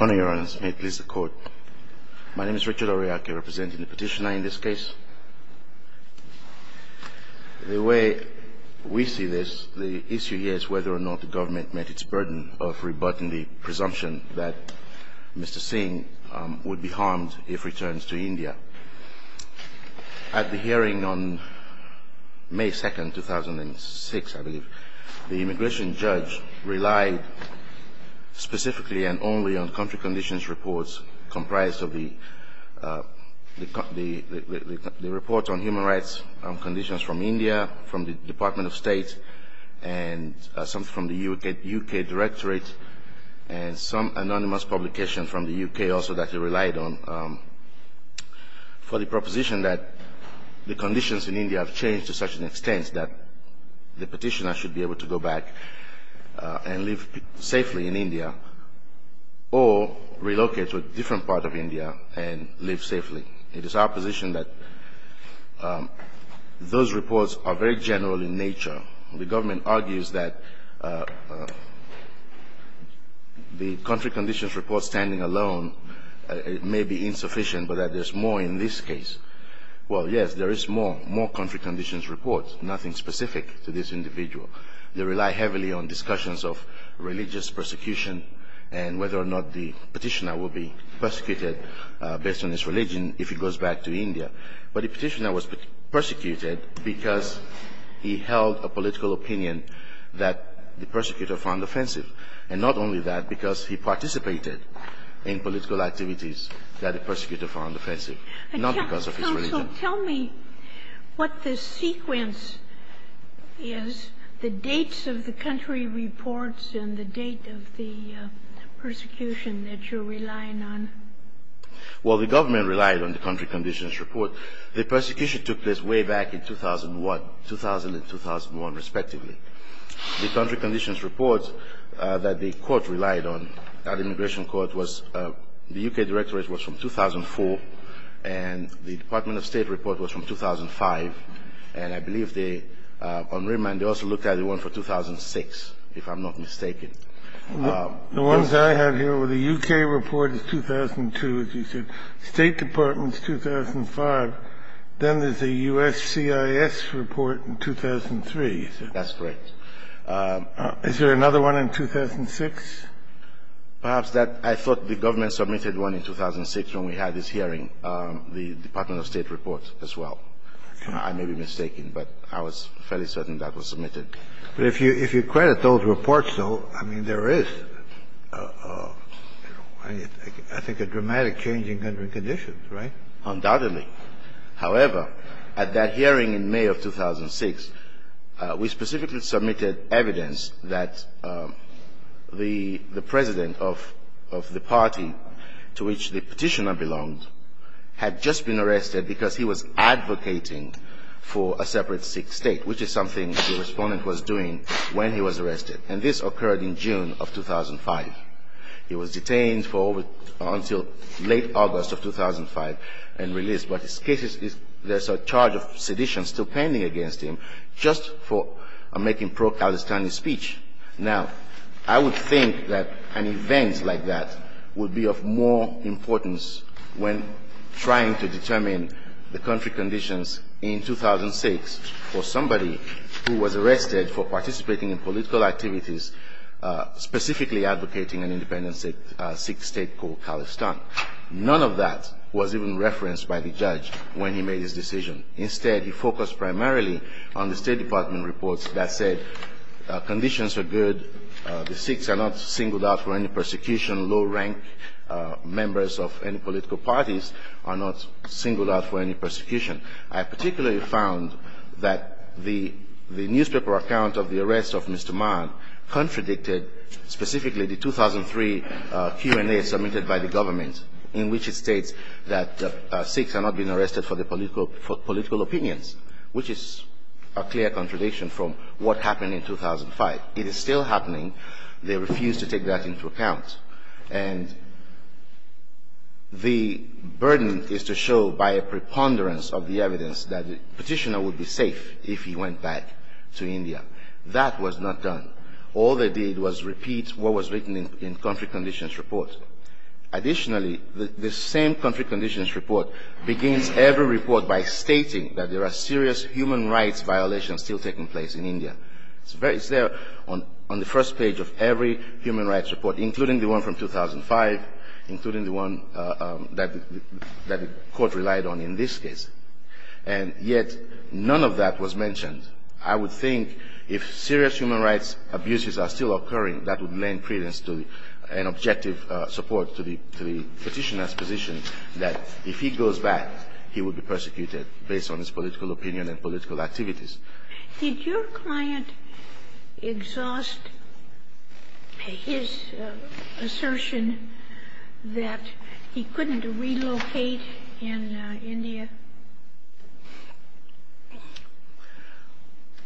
Honourable Your Honours, may it please the Court. My name is Richard Oryaki, representing the petitioner in this case. The way we see this, the issue here is whether or not the government met its burden of rebutting the presumption that Mr. Singh would be harmed if he returns to India. At the hearing on May 2, 2006, I believe, the immigration judge relied specifically and only on country conditions reports comprised of the report on human rights conditions from India, from the Department of State, and some from the U.K. Directorate, and some anonymous publications from the U.K. also that he relied on. For the proposition that the conditions in India have changed to such an extent that the petitioner should be able to go back and live safely in India or relocate to a different part of India and live safely, it is our position that those reports are very general in nature. The government argues that the country conditions report standing alone may be insufficient, but that there's more in this case. Well, yes, there is more, more country conditions reports, nothing specific to this individual. They rely heavily on discussions of religious persecution and whether or not the petitioner will be persecuted based on his religion if he goes back to India. But the petitioner was persecuted because he held a political opinion that the persecutor found offensive, and not only that, because he participated in political activities that the persecutor found offensive, not because of his religion. Tell me what the sequence is, the dates of the country reports and the date of the persecution that you're relying on. Well, the government relied on the country conditions report. The persecution took place way back in 2001, 2000 and 2001, respectively. The country conditions reports that the court relied on, that immigration court was, the U.K. directorate was from 2004, and the Department of State report was from 2005. And I believe they, on remand, they also looked at the one for 2006, if I'm not mistaken. The ones I have here, the U.K. report is 2002, as you said. State Department's 2005. Then there's a U.S. CIS report in 2003, you said. That's correct. Is there another one in 2006? Perhaps that. I thought the government submitted one in 2006 when we had this hearing, the Department of State report as well. I may be mistaken, but I was fairly certain that was submitted. But if you credit those reports, though, I mean, there is, I think, a dramatic change in country conditions, right? Undoubtedly. However, at that hearing in May of 2006, we specifically submitted evidence that the President of the party to which the petitioner belonged had just been arrested because he was advocating for a separate Sikh state, which is something the Respondent was doing when he was arrested. And this occurred in June of 2005. He was detained for over, until late August of 2005 and released. But his case is, there's a charge of sedition still pending against him just for making pro-Palestinian speech. Now, I would think that an event like that would be of more importance when trying to determine the country conditions in 2006 for somebody who was arrested for participating in political activities, specifically advocating an independent Sikh state called Palestine. None of that was even referenced by the judge when he made his decision. Instead, he focused primarily on the State Department reports that said conditions are good, the Sikhs are not singled out for any persecution, low-rank members of any political parties are not singled out for any persecution. I particularly found that the newspaper account of the arrest of Mr. Mann contradicted specifically the 2003 Q&A submitted by the government in which it states that Sikhs are not being arrested for political opinions, which is a clear contradiction from what happened in 2005. It is still happening. They refuse to take that into account. And the burden is to show by a preponderance of the evidence that the petitioner would be safe if he went back to India. That was not done. All they did was repeat what was written in country conditions report. Additionally, the same country conditions report begins every report by stating that there are serious human rights violations still taking place in India. It's there on the first page of every human rights report, including the one from 2005, including the one that the court relied on in this case. And yet none of that was mentioned. I would think if serious human rights abuses are still occurring, that would lend credence to an objective support to the petitioner's position that if he goes back, he would be persecuted based on his political opinion and political activities. Did your client exhaust his assertion that he couldn't relocate in India?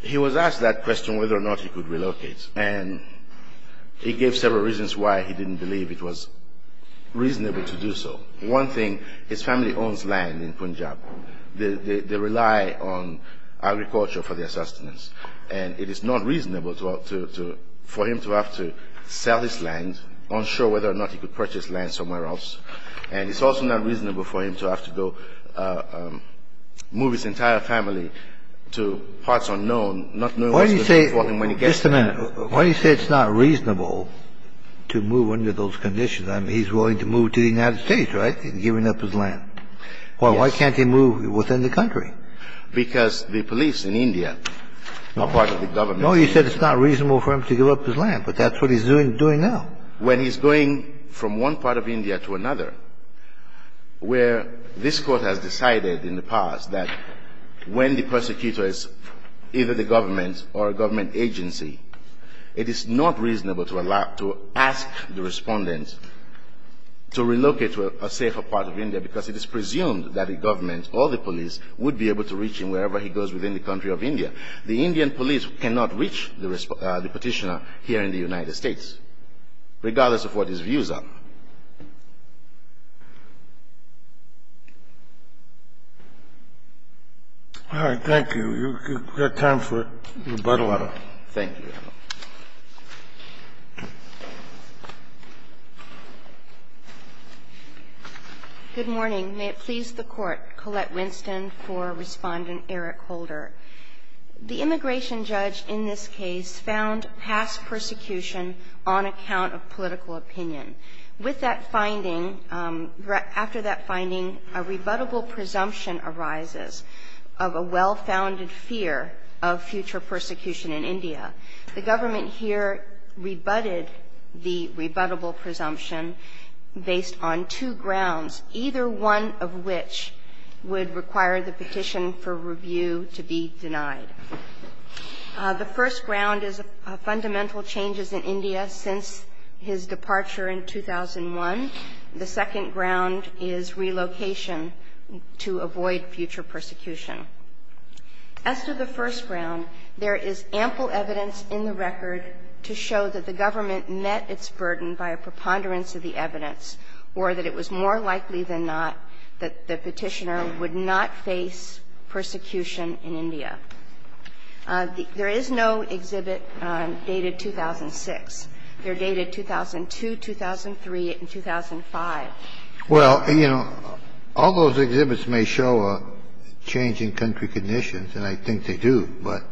He was asked that question, whether or not he could relocate. And he gave several reasons why he didn't believe it was reasonable to do so. One thing, his family owns land in Punjab. They rely on agriculture for their sustenance. And it is not reasonable for him to have to sell his land, unsure whether or not he could purchase land somewhere else. And it's also not reasonable for him to have to go move his entire family to parts unknown, not knowing what's going to happen to him when he gets there. Just a minute. Why do you say it's not reasonable to move under those conditions? I mean, he's willing to move to the United States, right, and giving up his land. Yes. Why can't he move within the country? Because the police in India are part of the government. No, you said it's not reasonable for him to give up his land, but that's what he's doing now. When he's going from one part of India to another, where this Court has decided in the past that when the persecutor is either the government or a government agency, it is not reasonable to allow to ask the Respondent to relocate to a safer part of India because it is presumed that the government or the police would be able to reach him wherever he goes within the country of India. The Indian police cannot reach the Petitioner here in the United States, regardless of what his views are. All right. Thank you. You've got time for rebuttal. Thank you, Your Honor. Good morning. May it please the Court. Colette Winston for Respondent Eric Holder. The immigration judge in this case found past persecution on account of political opinion. With that finding, after that finding, a rebuttable presumption arises of a well-founded fear of future persecution in India. The government here rebutted the rebuttable presumption based on two grounds, either one of which would require the petition for review to be denied. The first ground is fundamental changes in India since his departure in 2001. The second ground is relocation to avoid future persecution. As to the first ground, there is ample evidence in the record to show that the government met its burden by a preponderance of the evidence or that it was more likely than not that the Petitioner would not face persecution in India. There is no exhibit dated 2006. They're dated 2002, 2003, and 2005. Well, you know, all those exhibits may show a change in country conditions, and I think they do, but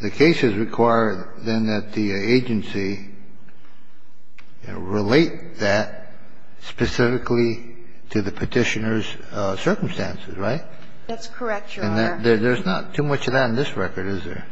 the cases require then that the agency relate that specifically to the Petitioner's circumstances, right? That's correct, Your Honor. And there's not too much of that in this record, is there?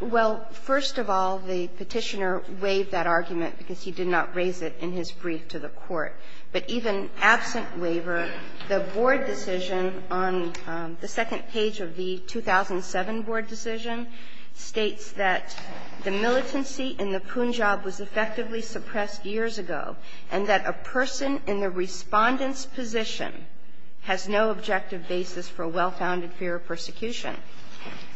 Well, first of all, the Petitioner waived that argument because he did not raise it in his brief to the Court. But even absent waiver, the board decision on the second page of the 2007 board decision states that the militancy in the Punjab was effectively suppressed years ago and that a person in the Respondent's position has no objective basis for a well-founded fear of persecution.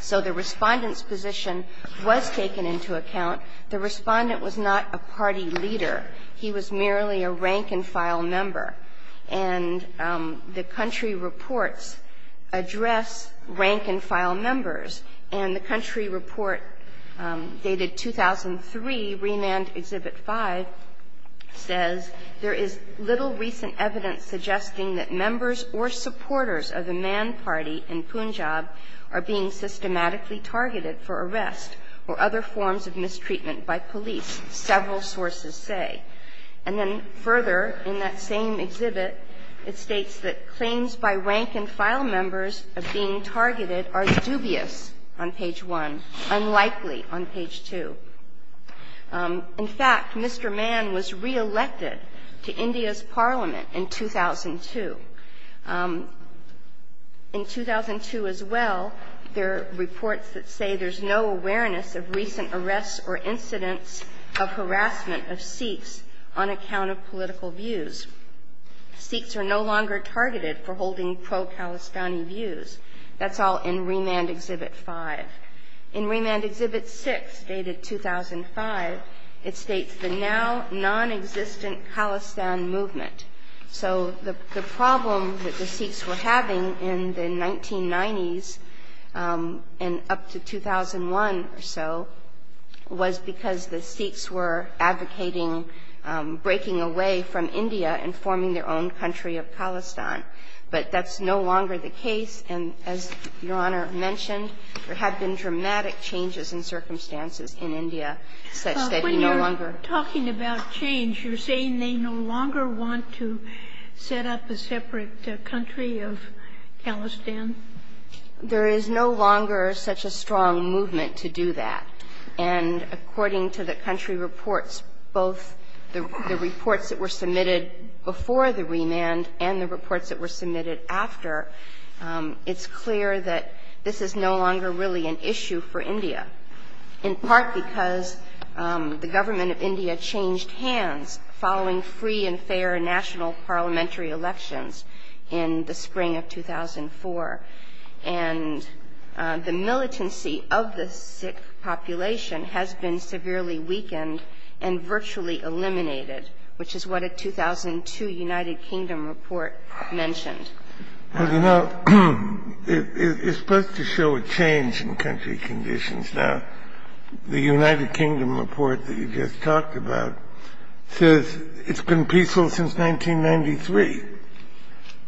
So the Respondent's position was taken into account. The Respondent was not a party leader. He was merely a rank-and-file member. And the country reports address rank-and-file members. And the country report dated 2003, Remand Exhibit 5, says, there is little recent evidence suggesting that members or supporters of the Mann Party in Punjab are being systematically targeted for arrest or other forms of mistreatment by police, several sources say. And then further in that same exhibit, it states that claims by rank-and-file members of being targeted are dubious on page 1, unlikely on page 2. In fact, Mr. Mann was reelected to India's parliament in 2002. In 2002 as well, there are reports that say there's no awareness of recent arrests or incidents of harassment of Sikhs on account of political views. Sikhs are no longer targeted for holding pro-Kalistani views. That's all in Remand Exhibit 5. In Remand Exhibit 6, dated 2005, it states the now non-existent Khalistan movement. So the problem that the Sikhs were having in the 1990s and up to 2001 or so was because the Sikhs were advocating breaking away from India and forming their own country of Khalistan. But that's no longer the case, and as Your Honor mentioned, there have been dramatic changes in circumstances in India such that you no longer. Sotomayor, talking about change, you're saying they no longer want to set up a separate country of Khalistan? There is no longer such a strong movement to do that. And according to the country reports, both the reports that were submitted before the remand and the reports that were submitted after, it's clear that this is no longer really an issue for India. In part because the government of India changed hands following free and fair national parliamentary elections in the spring of 2004. And the militancy of the Sikh population has been severely weakened and virtually eliminated, which is what a 2002 United Kingdom report mentioned. Well, you know, it's supposed to show a change in country conditions. Now, the United Kingdom report that you just talked about says it's been peaceful since 1993.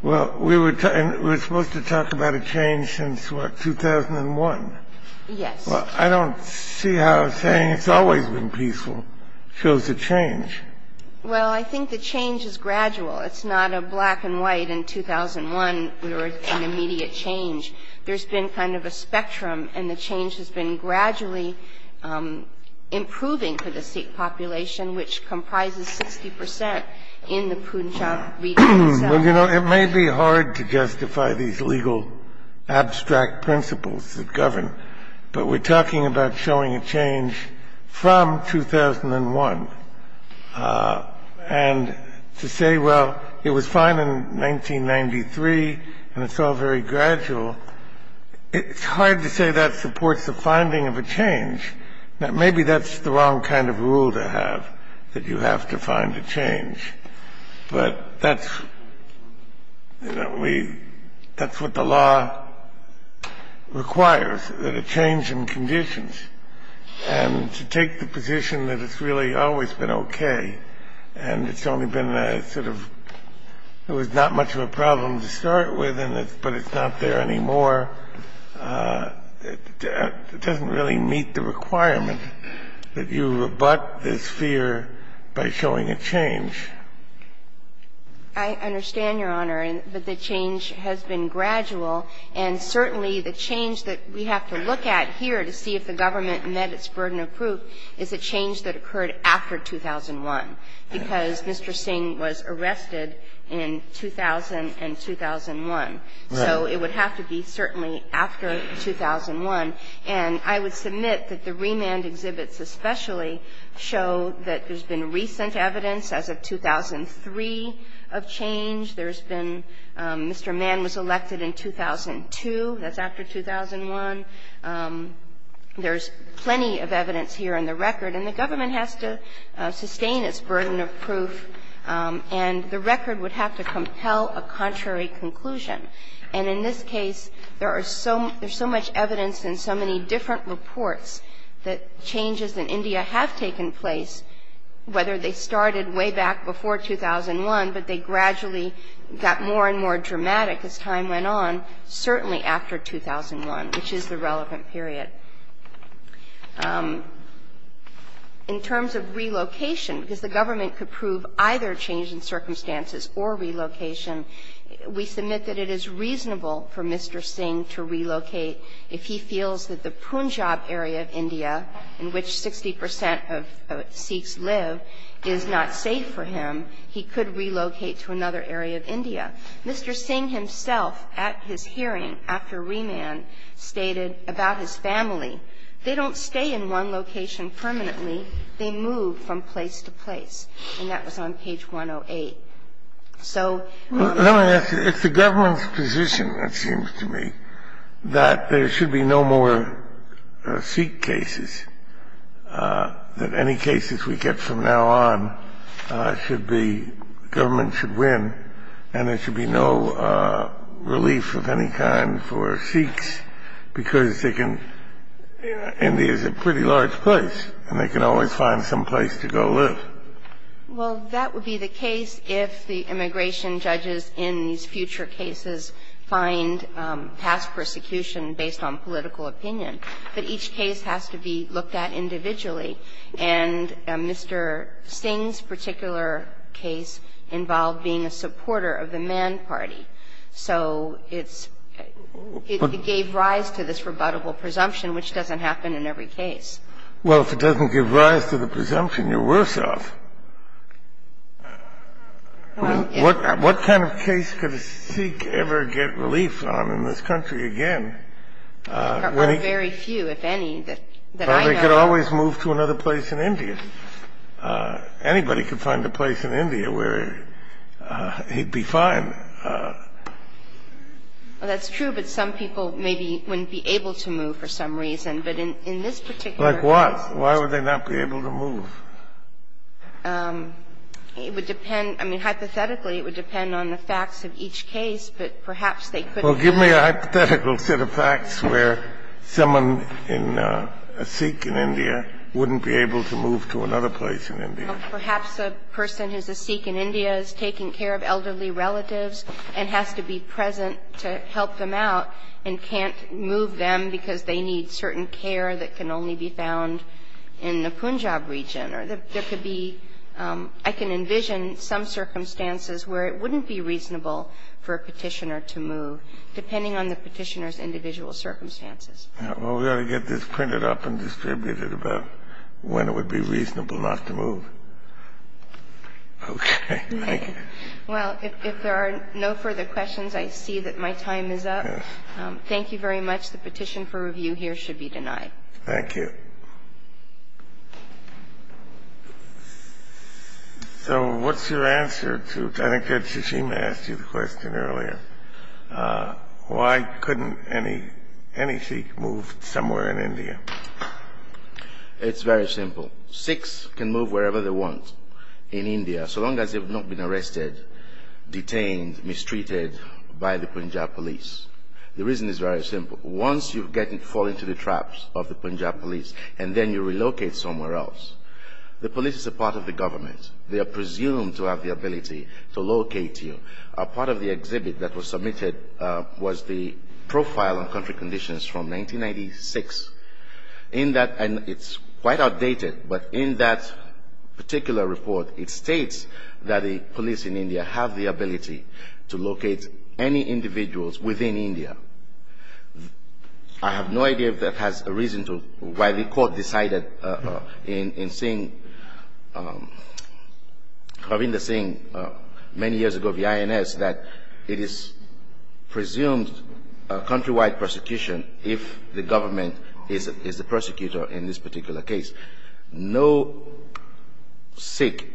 Well, we were supposed to talk about a change since, what, 2001. Yes. Well, I don't see how saying it's always been peaceful shows a change. Well, I think the change is gradual. It's not a black and white, in 2001 we were in immediate change. There's been kind of a spectrum, and the change has been gradually improving for the Sikh population, which comprises 60 percent in the Punjab region itself. Well, you know, it may be hard to justify these legal abstract principles that govern, but we're talking about showing a change from 2001. And to say, well, it was fine in 1993, and it's all very gradual, it's hard to say that supports the finding of a change. Now, maybe that's the wrong kind of rule to have, that you have to find a change. But that's what the law requires, that a change in conditions. And to take the position that it's really always been okay, and it's only been a sort of, it was not much of a problem to start with, but it's not there anymore, it doesn't really meet the requirement that you rebut this fear by showing a change. I understand, Your Honor, that the change has been gradual. And certainly the change that we have to look at here to see if the government met its burden of proof is a change that occurred after 2001, because Mr. Singh was arrested in 2000 and 2001. So it would have to be certainly after 2001. And I would submit that the remand exhibits especially show that there's been recent evidence as of 2003 of change. There's been Mr. Mann was elected in 2002. That's after 2001. There's plenty of evidence here in the record. And the government has to sustain its burden of proof, and the record would have to compel a contrary conclusion. And in this case, there are so much evidence and so many different reports that changes in India have taken place, whether they started way back before 2001, but they gradually got more and more dramatic as time went on, certainly after 2001, which is the relevant period. In terms of relocation, because the government could prove either change in circumstances or relocation, we submit that it is reasonable for Mr. Singh to relocate if he feels that the Punjab area of India, in which 60 percent of Sikhs live, is not safe for him. He could relocate to another area of India. Mr. Singh himself, at his hearing after remand, stated about his family, they don't stay in one location permanently. They move from place to place. And that was on page 108. So we would have to do that. Kennedy It's the government's position, it seems to me, that there should be no more kind of Sikh cases, that any cases we get from now on should be, government should win, and there should be no relief of any kind for Sikhs, because they can India is a pretty large place, and they can always find some place to go live. Kagan Well, that would be the case if the immigration judges in these future cases find past persecution based on political opinion. But each case has to be looked at individually. And Mr. Singh's particular case involved being a supporter of the Mann Party. So it's – it gave rise to this rebuttable presumption, which doesn't happen in every case. Kennedy Well, if it doesn't give rise to the presumption, you're worse off. What kind of case could a Sikh ever get relief on in this country again? Kagan There are very few, if any, that I know of. Kennedy Well, they could always move to another place in India. Anybody could find a place in India where he'd be fine. Kagan Well, that's true, but some people maybe wouldn't be able to move for some reason. But in this particular case – Kennedy Like what? Why would they not be able to move? Kagan It would depend – I mean, hypothetically, it would depend on the facts of each case, but perhaps they couldn't move. Kennedy Well, give me a hypothetical set of facts where someone in a Sikh in India wouldn't be able to move to another place in India. Kagan Well, perhaps a person who's a Sikh in India is taking care of elderly relatives and has to be present to help them out and can't move them because they need certain care that can only be found in the Punjab region, or there could be – I can envision some circumstances where it wouldn't be reasonable for a petitioner to move, depending on the petitioner's individual circumstances. Kennedy Well, we ought to get this printed up and distributed about when it would be reasonable not to move. Okay. Thank you. Kagan Well, if there are no further questions, I see that my time is up. Kennedy Yes. Kagan Thank you very much. The petition for review here should be denied. Kennedy Thank you. So what's your answer to – I think that Susheem asked you the question earlier. Why couldn't any Sikh move somewhere in India? Susheem It's very simple. Sikhs can move wherever they want in India so long as they've not been arrested, detained, mistreated by the Punjab police. The reason is very simple. Once you fall into the traps of the Punjab police and then you relocate somewhere else, the police is a part of the government. They are presumed to have the ability to locate you. A part of the exhibit that was submitted was the profile on country conditions from 1996. In that – and it's quite outdated, but in that particular report, it states that have the ability to locate any individuals within India. I have no idea if that has a reason to – why the court decided in seeing – having the seeing many years ago of the INS that it is presumed a countrywide prosecution if the government is the prosecutor in this particular case. No Sikh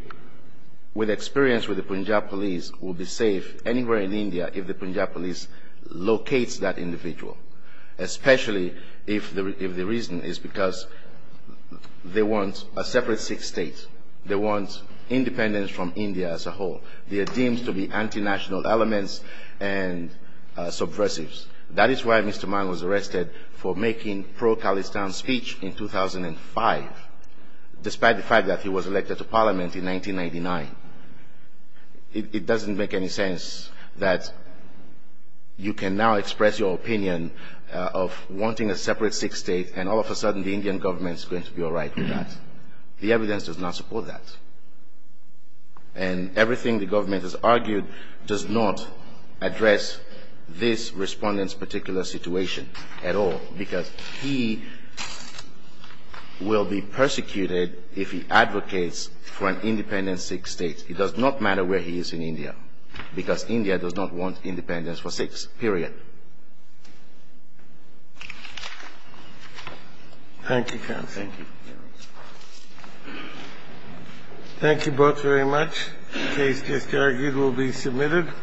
with experience with the Punjab police will be safe anywhere in India if the Punjab police locates that individual, especially if the reason is because they want a separate Sikh state. They want independence from India as a whole. They are deemed to be anti-national elements and subversives. That is why Mr. Mann was arrested for making pro-Khalistan speech in 2005, despite the fact that he was elected to parliament in 1999. It doesn't make any sense that you can now express your opinion of wanting a separate Sikh state and all of a sudden the Indian government is going to be all right with that. The evidence does not support that. And everything the government has argued does not address this Respondent's particular situation at all, because he will be persecuted if he advocates for an independent Sikh state. It does not matter where he is in India, because India does not want independence for Sikhs, period. Thank you. Thank you both very much. The case just argued will be submitted.